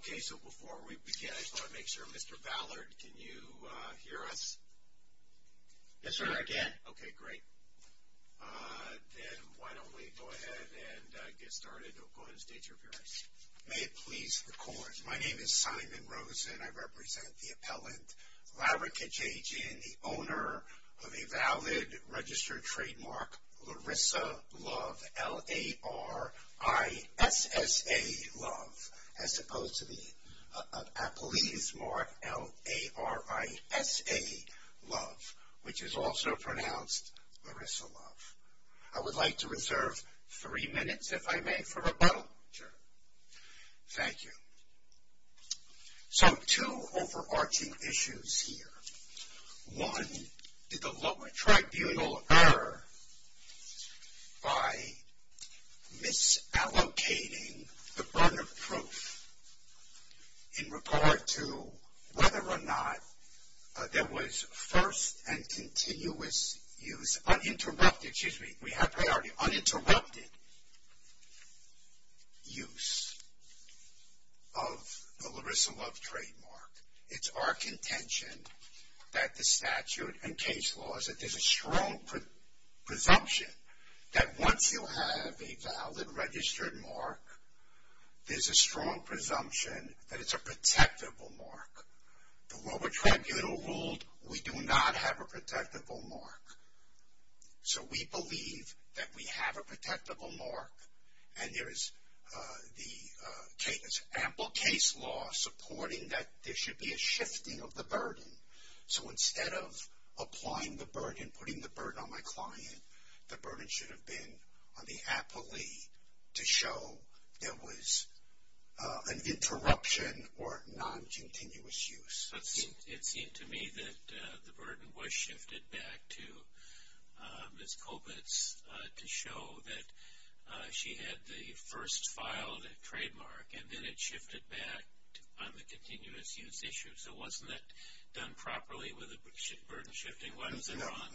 Okay, so before we begin, I just want to make sure, Mr. Ballard, can you hear us? Yes, sir, I can. Okay, great. Then why don't we go ahead and get started. Go ahead and state your appearance. May it please the court, my name is Simon Rosen. I represent the appellant Lara Kajajian, and the owner of a valid registered trademark, Larissa Love, L-A-R-I-S-S-A Love, as opposed to the appellee's mark, L-A-R-I-S-A Love, which is also pronounced Larissa Love. I would like to reserve three minutes, if I may, for rebuttal. Sure. Thank you. So, two overarching issues here. One, did the lower tribunal err by misallocating the burn of proof in regard to whether or not there was first and continuous use, uninterrupted, excuse me, we have priority, uninterrupted use of the Larissa Love trademark. It's our contention that the statute and case laws, that there's a strong presumption that once you have a valid registered mark, there's a strong presumption that it's a protectable mark. The lower tribunal ruled we do not have a protectable mark. So, we believe that we have a protectable mark, and there is the case, ample case law supporting that there should be a shifting of the burden. So, instead of applying the burden, putting the burden on my client, the burden should have been on the appellee to show there was an interruption or non-continuous use. It seemed to me that the burden was shifted back to Ms. Kobitz to show that she had the first filed trademark, and then it shifted back on the continuous use issue. So, wasn't that done properly with the burden shifting? What is it wrong?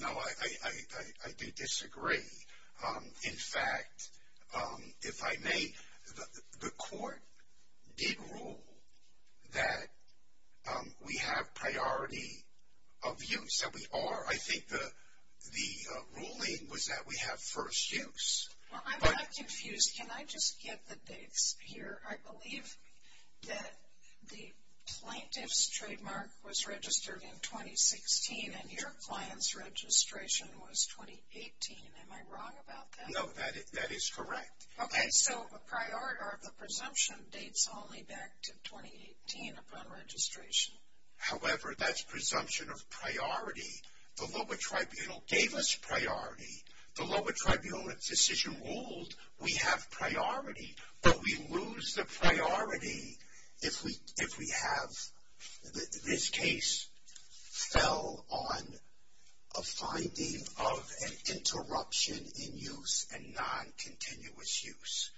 No, I do disagree. In fact, if I may, the court did rule that we have priority of use, and we are. I think the ruling was that we have first use. Well, I'm not confused. Can I just get the dates here? I believe that the plaintiff's trademark was registered in 2016, and your client's registration was 2018. Am I wrong about that? No, that is correct. Okay, so the presumption dates only back to 2018 upon registration. However, that's presumption of priority. The lower tribunal gave us priority. The lower tribunal decision ruled we have priority, but we lose the priority if we have this case fell on a finding of an interruption in use and non-continuous use.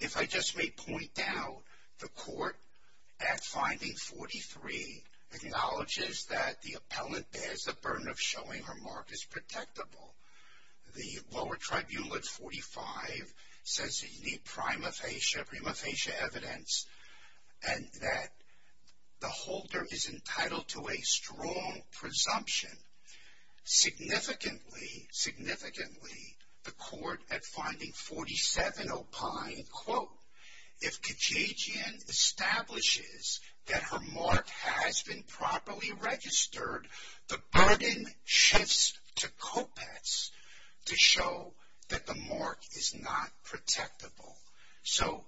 If I just may point out, the court at finding 43 acknowledges that the appellant bears the burden of showing her mark as protectable. The lower tribunal at 45 says that you need prima facie evidence and that the holder is entitled to a strong presumption. Significantly, the court at finding 47 opined, if Kajagian establishes that her mark has been properly registered, the burden shifts to Kopetz to show that the mark is not protectable. So,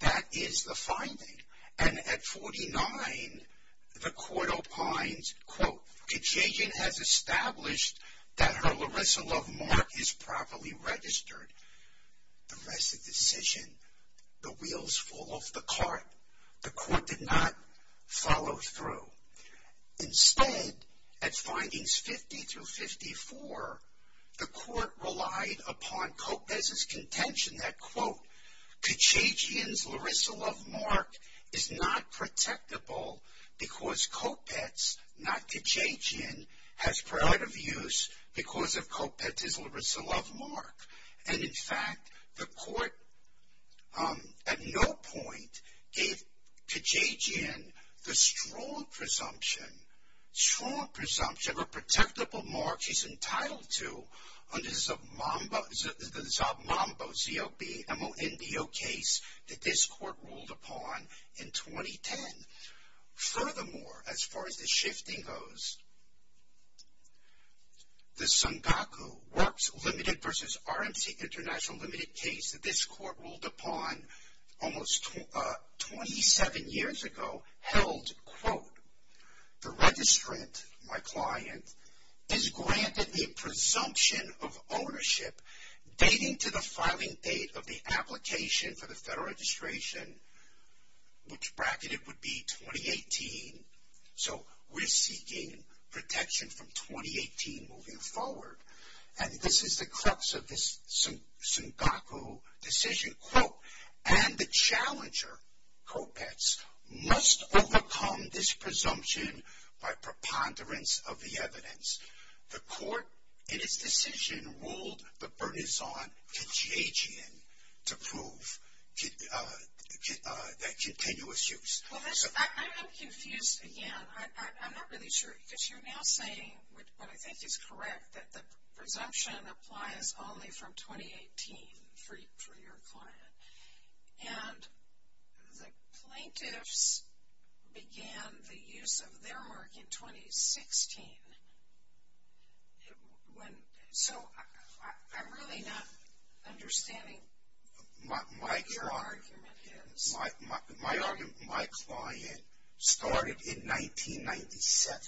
that is the finding. And at 49, the court opined, Kajagian has established that her Larissa Love mark is properly registered. The rest of the decision, the wheels fall off the cart. The court did not follow through. Instead, at findings 50 through 54, the court relied upon Kopetz's contention that Kajagian's Larissa Love mark is not protectable because Kopetz, not Kajagian, has priority of use because of Kopetz's Larissa Love mark. And in fact, the court at no point gave Kajagian the strong presumption, strong presumption of a protectable mark she's entitled to under the Zabambo, Z-O-B-M-O-N-D-O case that this court ruled upon in 2010. Furthermore, as far as the shifting goes, the Sungaku Works Limited versus RMC International Limited case that this court ruled upon almost 27 years ago held, quote, the registrant, my client, is granted the presumption of ownership dating to the filing date of the application for the federal registration, which bracketed would be 2018. So, we're seeking protection from 2018 moving forward. And this is the crux of this Sungaku decision, quote, and the challenger, Kopetz, must overcome this presumption by preponderance of the evidence. The court, in its decision, ruled the burdens on Kajagian to prove that continuous use. Well, I'm confused again. I'm not really sure, because you're now saying what I think is correct, that the presumption applies only from 2018 for your client. And the plaintiffs began the use of their mark in 2016. So, I'm really not understanding what your argument is. My argument, my client started in 1997.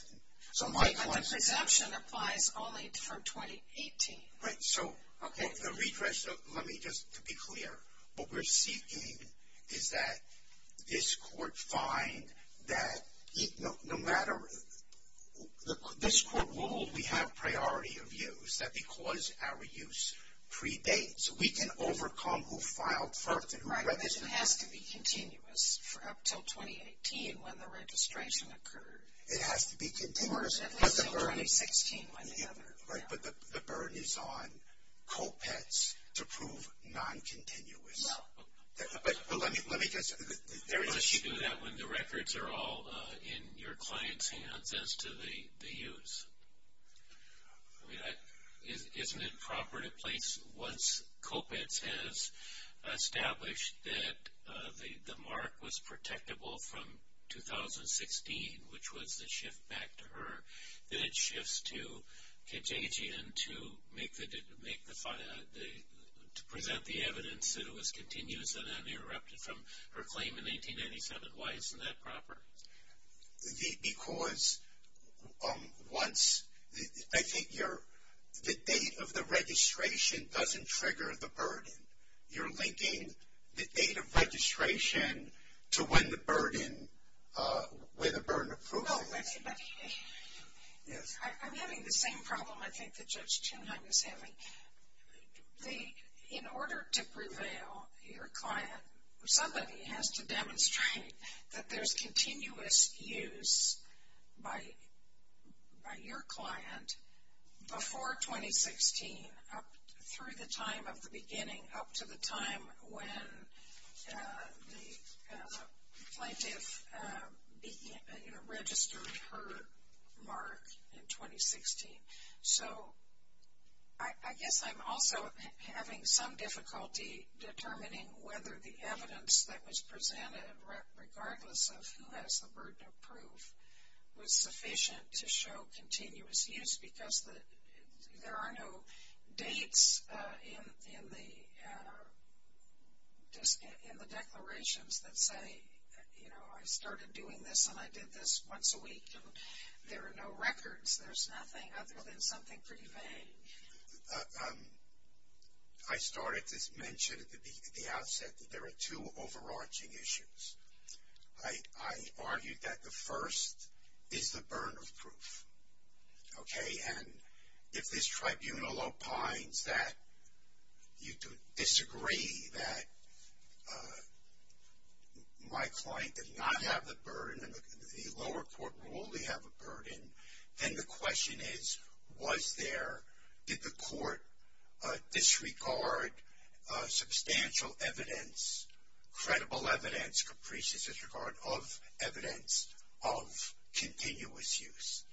But the presumption applies only from 2018. Right. So, the redress, let me just, to be clear, what we're seeking is that this court find that no matter, this court ruled we have priority of use, that because our use predates, we can overcome who filed first and who registered first. It has to be continuous for up until 2018 when the registration occurred. It has to be continuous. Or at least until 2016 when the other, yeah. Right, but the burden is on Kopetz to prove non-continuous. Well. But let me just, there is. Unless you do that when the records are all in your client's hands as to the use. I mean, isn't it proper to place, once Kopetz has established that the mark was protectable from 2016, which was the shift back to her, that it shifts to JG and to make the, to present the evidence that it was continuous and uninterrupted from her claim in 1997? Why isn't that proper? Because once, I think you're, the date of the registration doesn't trigger the burden. You're linking the date of registration to when the burden, where the burden of proof is. I'm having the same problem, I think, that Judge Tunheim is having. The, in order to prevail, your client, somebody has to demonstrate that there's continuous use by your client before 2016, up through the time of the beginning, up to the time when the plaintiff, you know, registered her mark in 2016. So, I guess I'm also having some difficulty determining whether the evidence that was presented, regardless of who has the burden of proof, was sufficient to show continuous use. Because there are no dates in the declarations that say, you know, I started doing this and I did this once a week. There are no records. There's nothing other than something pretty vague. I started to mention at the outset that there are two overarching issues. I argued that the first is the burden of proof. Okay, and if this tribunal opines that you disagree that my client did not have the burden, and the lower court will only have a burden, then the question is, was there, did the court disregard substantial evidence, credible evidence, capricious disregard of evidence of continuous use?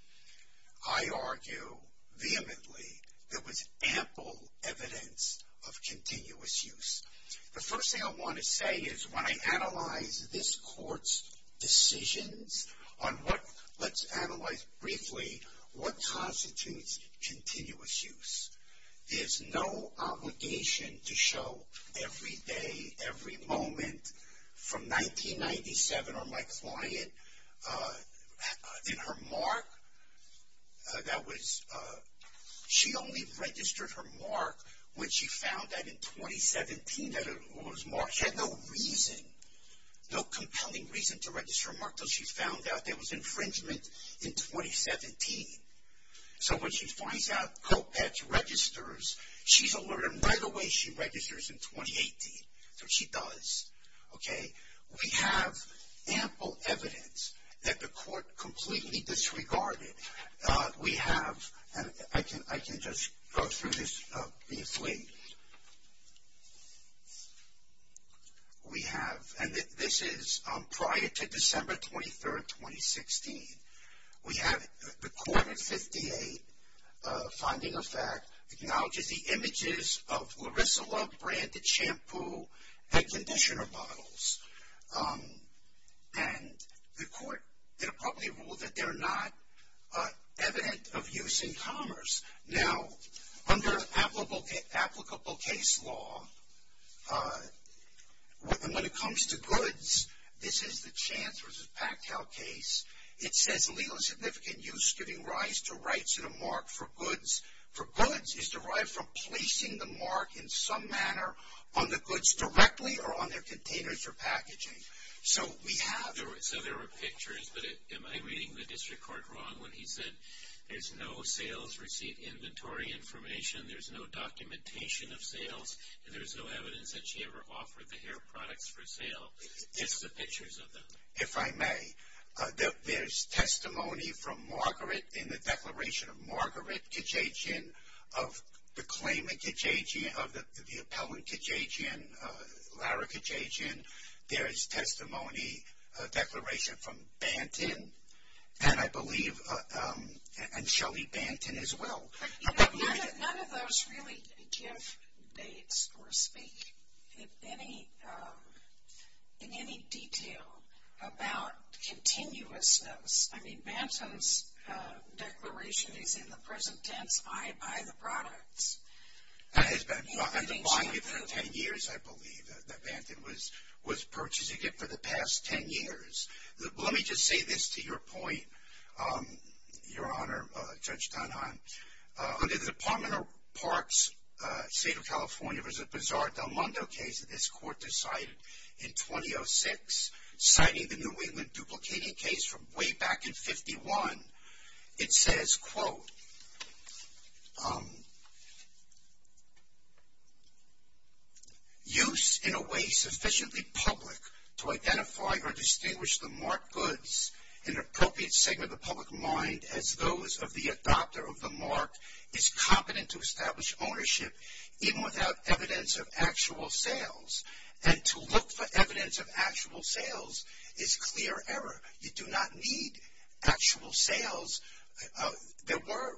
I argue, vehemently, there was ample evidence of continuous use. The first thing I want to say is when I analyze this court's decisions on what, let's analyze briefly, what constitutes continuous use? There's no obligation to show every day, every moment from 1997 on my client, in her mark, that was, she only registered her mark when she found out in 2017 that it was marked. She had no reason, no compelling reason to register her mark until she found out there was infringement in 2017. So when she finds out COPEX registers, she's alert, and right away she registers in 2018. So she does, okay? We have ample evidence that the court completely disregarded. We have, and I can just go through this briefly. We have, and this is prior to December 23rd, 2016. We have, the court in 58, finding of fact, acknowledges the images of Larissa Love-branded shampoo and conditioner bottles. And the court in a public rule that they're not evident of use in commerce. Now, under applicable case law, when it comes to goods, this is the Chance v. Pactel case. It says legal and significant use giving rise to rights and a mark for goods. For goods, it's derived from placing the mark in some manner on the goods directly or on their containers for packaging. So we have. So there were pictures, but am I reading the district court wrong when he said there's no sales receipt inventory information, there's no documentation of sales, and there's no evidence that she ever offered the hair products for sale? Just the pictures of them. If I may, there's testimony from Margaret in the declaration of Margaret Kajagian of the claimant Kajagian, of the appellant Kajagian, Lara Kajagian. There is testimony, a declaration from Banton, and I believe, and Shelly Banton as well. None of those really give dates or speak in any detail about continuousness. I mean, Banton's declaration is in the present tense, I buy the products. That has been underlined for 10 years, I believe, that Banton was purchasing it for the past 10 years. Let me just say this to your point, Your Honor, Judge Donahan. Under the Department of Parks, State of California, there was a bizarre Del Mundo case that this court decided in 2006, citing the New England duplicating case from way back in 51. It says, quote, use in a way sufficiently public to identify or distinguish the marked goods in an appropriate segment of the public mind as those of the adopter of the mark is competent to establish ownership even without evidence of actual sales. And to look for evidence of actual sales is clear error. You do not need actual sales. There were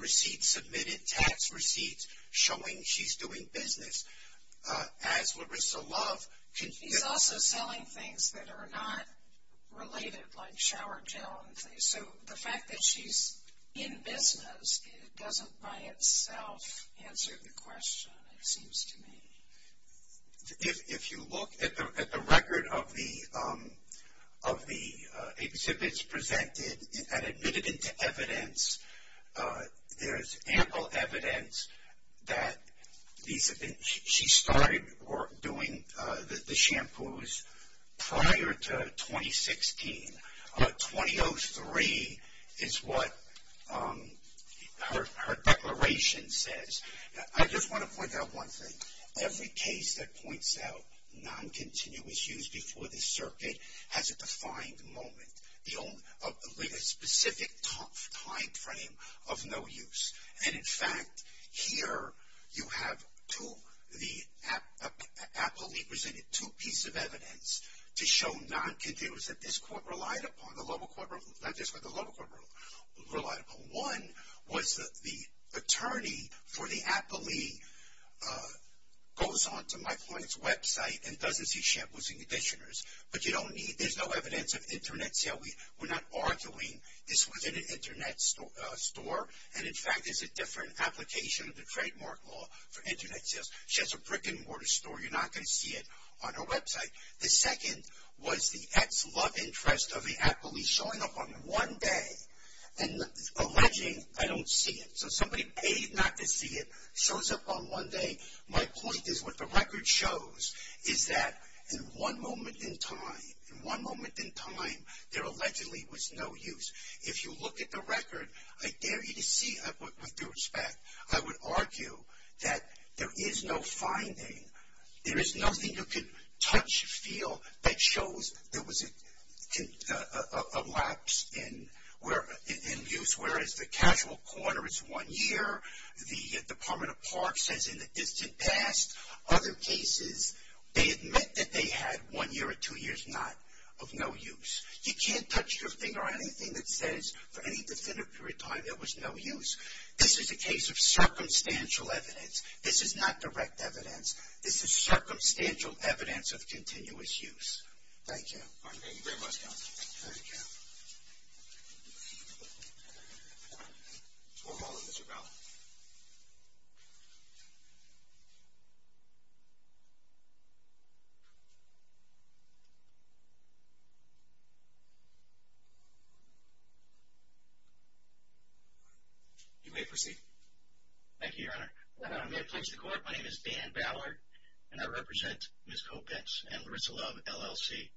receipts submitted, tax receipts, showing she's doing business. As Larissa Love. She's also selling things that are not related, like shower gel and things. So the fact that she's in business doesn't by itself answer the question, it seems to me. If you look at the record of the exhibits presented and admitted into evidence, there's ample evidence that she started doing the shampoos prior to 2016. 2003 is what her declaration says. I just want to point out one thing. Every case that points out non-continuous use before the circuit has a defined moment, a specific time frame of no use. And, in fact, here you have two, the aptly presented two pieces of evidence to show non-continuous that this court relied upon, not this court, the local court relied upon. One was that the attorney for the aptly goes on to my client's website and doesn't see shampoos and conditioners. But you don't need, there's no evidence of Internet sales. We're not arguing this was in an Internet store. And, in fact, it's a different application of the trademark law for Internet sales. She has a brick-and-mortar store. You're not going to see it on her website. The second was the ex-love interest of the aptly showing up on one day and alleging I don't see it. So somebody paid not to see it, shows up on one day. My point is what the record shows is that in one moment in time, in one moment in time, there allegedly was no use. If you look at the record, I dare you to see, with due respect, I would argue that there is no finding. There is nothing you can touch, feel that shows there was a lapse in use. Whereas the casual corner is one year. The Department of Parks says in the distant past. Other cases, they admit that they had one year or two years not of no use. You can't touch your finger on anything that says for any definitive period of time there was no use. This is a case of circumstantial evidence. This is not direct evidence. This is circumstantial evidence of continuous use. Thank you. All right. Thank you very much, counsel. Thank you. You may proceed. Thank you, Your Honor. May it please the Court, my name is Dan Ballard, and I represent Ms. Kopetz and Larissa Love, LLC.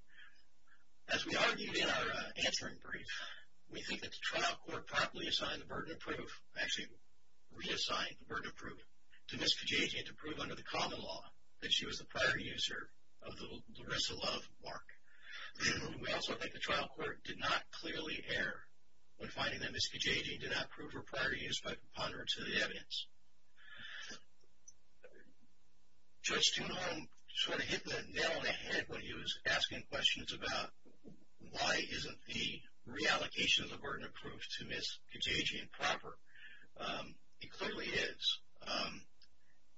As we argued in our answering brief, we think that the trial court properly assigned the burden of proof, actually reassigned the burden of proof to Ms. Kajiji to prove under the common law that she was the prior user of the Larissa Love mark. We also think the trial court did not clearly err when finding that Ms. Kajiji did not prove her prior use by compounding her to the evidence. Judge Tunholm sort of hit the nail on the head when he was asking questions about why isn't the reallocation of the burden of proof to Ms. Kajiji improper. It clearly is.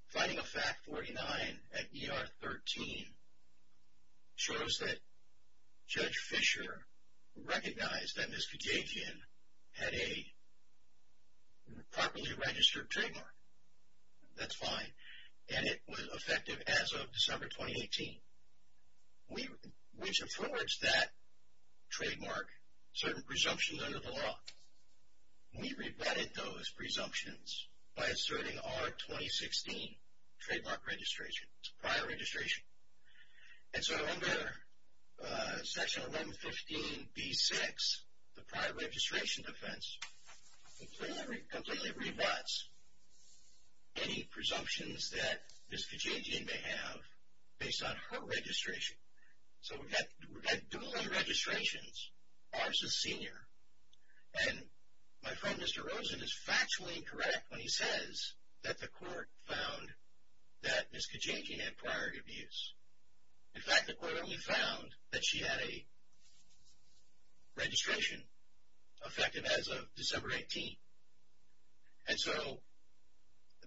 Finding a fact 49 at ER 13 shows that Judge Fisher recognized that Ms. Kajiji had a properly registered trademark. That's fine. And it was effective as of December 2018, which affords that trademark certain presumptions under the law. We rebutted those presumptions by asserting our 2016 trademark registration. It's a prior registration. And so under Section 1115B-6, the prior registration defense completely rebutts any presumptions that Ms. Kajiji may have based on her registration. So we've got dueling registrations. Ours is senior. And my friend Mr. Rosen is factually incorrect when he says that the court found that Ms. Kajiji had prior abuse. In fact, the court only found that she had a registration effective as of December 18. And so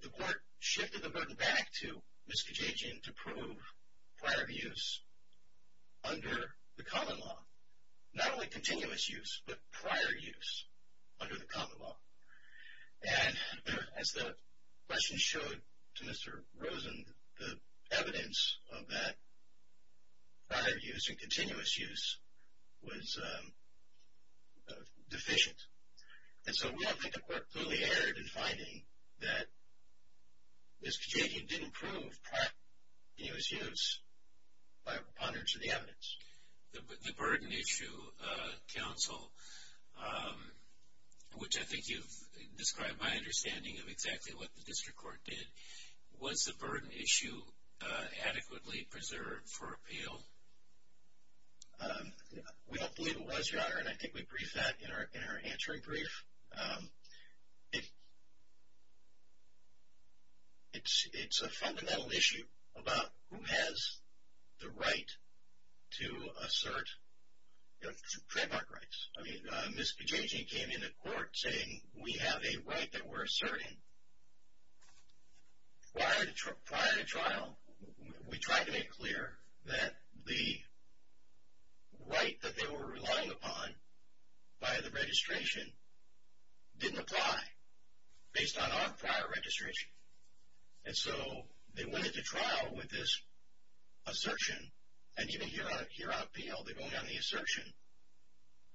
the court shifted the burden back to Ms. Kajiji to prove prior abuse under the common law. Not only continuous use, but prior use under the common law. And as the question showed to Mr. Rosen, the evidence of that prior use and continuous use was deficient. And so we don't think the court clearly erred in finding that Ms. Kajiji didn't prove prior continuous use by reponding to the evidence. The burden issue, counsel, which I think you've described my understanding of exactly what the district court did, was the burden issue adequately preserved for appeal? We don't believe it was, Your Honor, and I think we briefed that in our answering brief. It's a fundamental issue about who has the right to assert trademark rights. Ms. Kajiji came into court saying we have a right that we're asserting. Prior to trial, we tried to make clear that the right that they were relying upon by the registration didn't apply based on our prior registration. And so they went into trial with this assertion, and even here on appeal, they're going on the assertion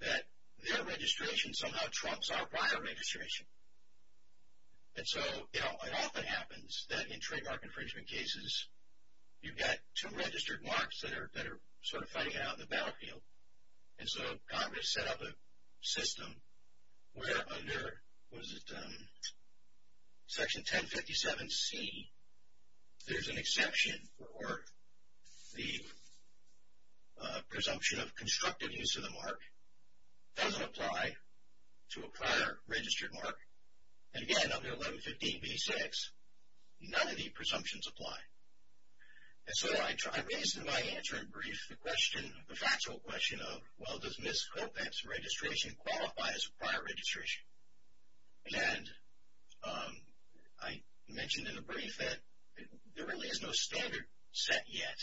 that their registration somehow trumps our prior registration. And so it often happens that in trademark infringement cases, you've got two registered marks that are sort of fighting it out on the battlefield. And so Congress set up a system where under Section 1057C, there's an exception for the presumption of constructive use of the mark. It doesn't apply to a prior registered mark. And again, under 1115B-6, none of the presumptions apply. And so I raised in my answering brief the factual question of, well, does Ms. Kotek's registration qualify as prior registration? And I mentioned in the brief that there really is no standard set yet.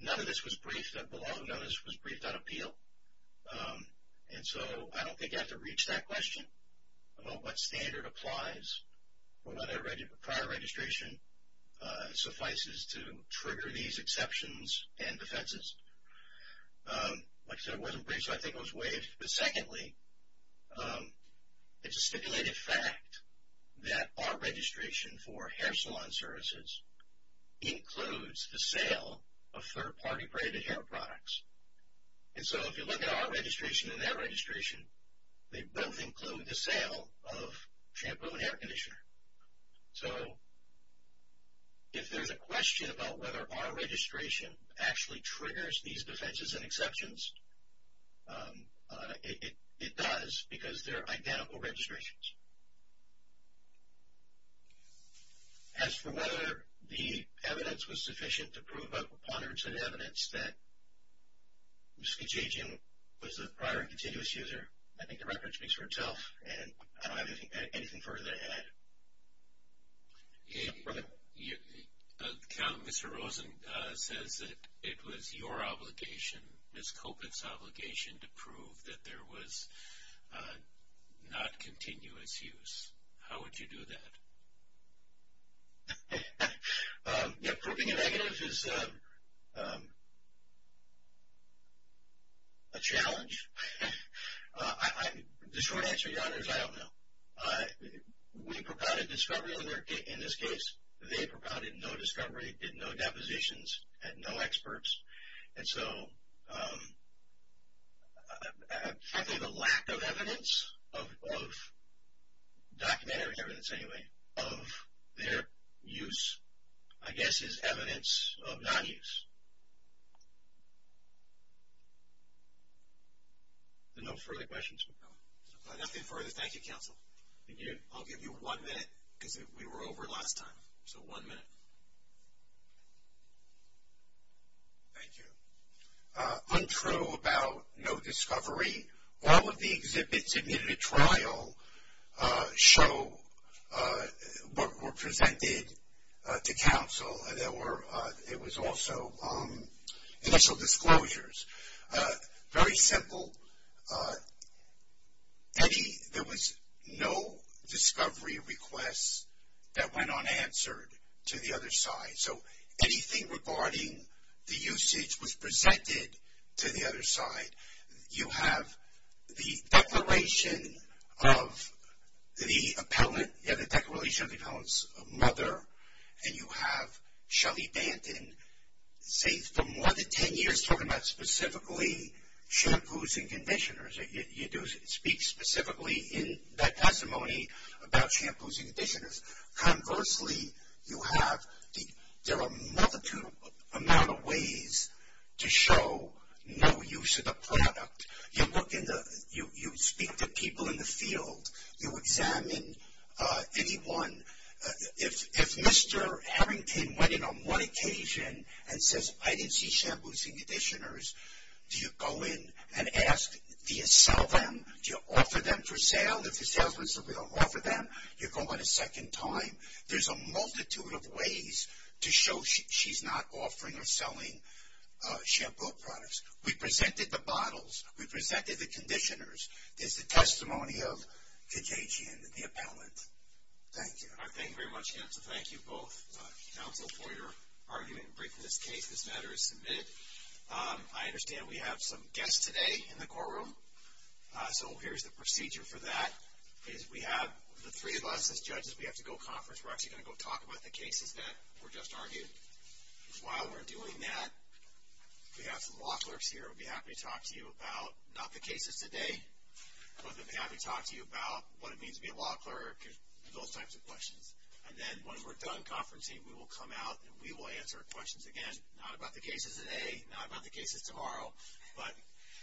None of this was briefed. The law of notice was briefed on appeal. And so I don't think I have to reach that question about what standard applies when prior registration suffices to trigger these exceptions and defenses. Like I said, it wasn't briefed, so I think it was waived. But secondly, it's a stipulated fact that our registration for hair salon services includes the sale of third-party braided hair products. And so if you look at our registration and their registration, they both include the sale of shampoo and hair conditioner. So if there's a question about whether our registration actually triggers these defenses and exceptions, it does, because they're identical registrations. As for whether the evidence was sufficient to prove a preponderance of evidence that Ms. Kitchajian was a prior and continuous user, I think the record speaks for itself. And I don't have anything further to add. Yes, brother? Mr. Rosen says that it was your obligation, Ms. Kopitz' obligation, to prove that there was not continuous use. How would you do that? Yeah, proving a negative is a challenge. The short answer to that is I don't know. We provided discovery in this case. They provided no discovery, did no depositions, had no experts. And so I think the lack of evidence, of documentary evidence anyway, of their use, I guess is evidence of non-use. No further questions? Nothing further. Thank you, counsel. Thank you. I'll give you one minute, because we were over last time. So one minute. Thank you. Untrue about no discovery. All of the exhibits admitted to trial show what were presented to counsel. It was also initial disclosures. Very simple. There was no discovery request that went unanswered to the other side. So anything regarding the usage was presented to the other side. You have the declaration of the appellant, you have the declaration of the appellant's mother, and you have Shelly Banton, say, for more than ten years, talking about specifically shampoos and conditioners. You do speak specifically in that testimony about shampoos and conditioners. Conversely, you have there are a multitude amount of ways to show no use of the product. You speak to people in the field. You examine anyone. If Mr. Harrington went in on one occasion and says, I didn't see shampoos and conditioners, do you go in and ask, do you sell them? Do you offer them for sale? If the salesman says we don't offer them, you go in a second time. There's a multitude of ways to show she's not offering or selling shampoo products. We presented the bottles. We presented the conditioners. This is the testimony of the judge and the appellant. Thank you. All right, thank you very much, counsel. Thank you both, counsel, for your argument and briefing this case. This matter is submitted. I understand we have some guests today in the courtroom, so here's the procedure for that. We have the three of us as judges. We have to go conference. We're actually going to go talk about the cases that were just argued. While we're doing that, we have some law clerks here who will be happy to talk to you about not the cases today, but they'll be happy to talk to you about what it means to be a law clerk, those types of questions. And then once we're done conferencing, we will come out and we will answer questions again, not about the cases today, not about the cases tomorrow, but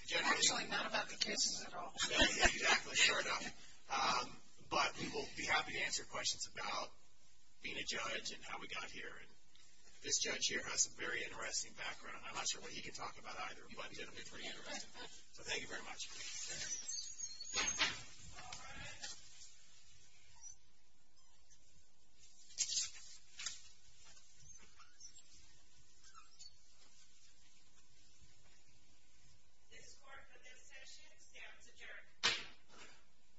generally. Actually, not about the cases at all. Exactly, sure enough. But we will be happy to answer questions about being a judge and how we got here. And this judge here has some very interesting background. I'm not sure what he can talk about either, but he's going to be pretty interesting. So thank you very much. Thank you. All rise. This court for this session stands adjourned.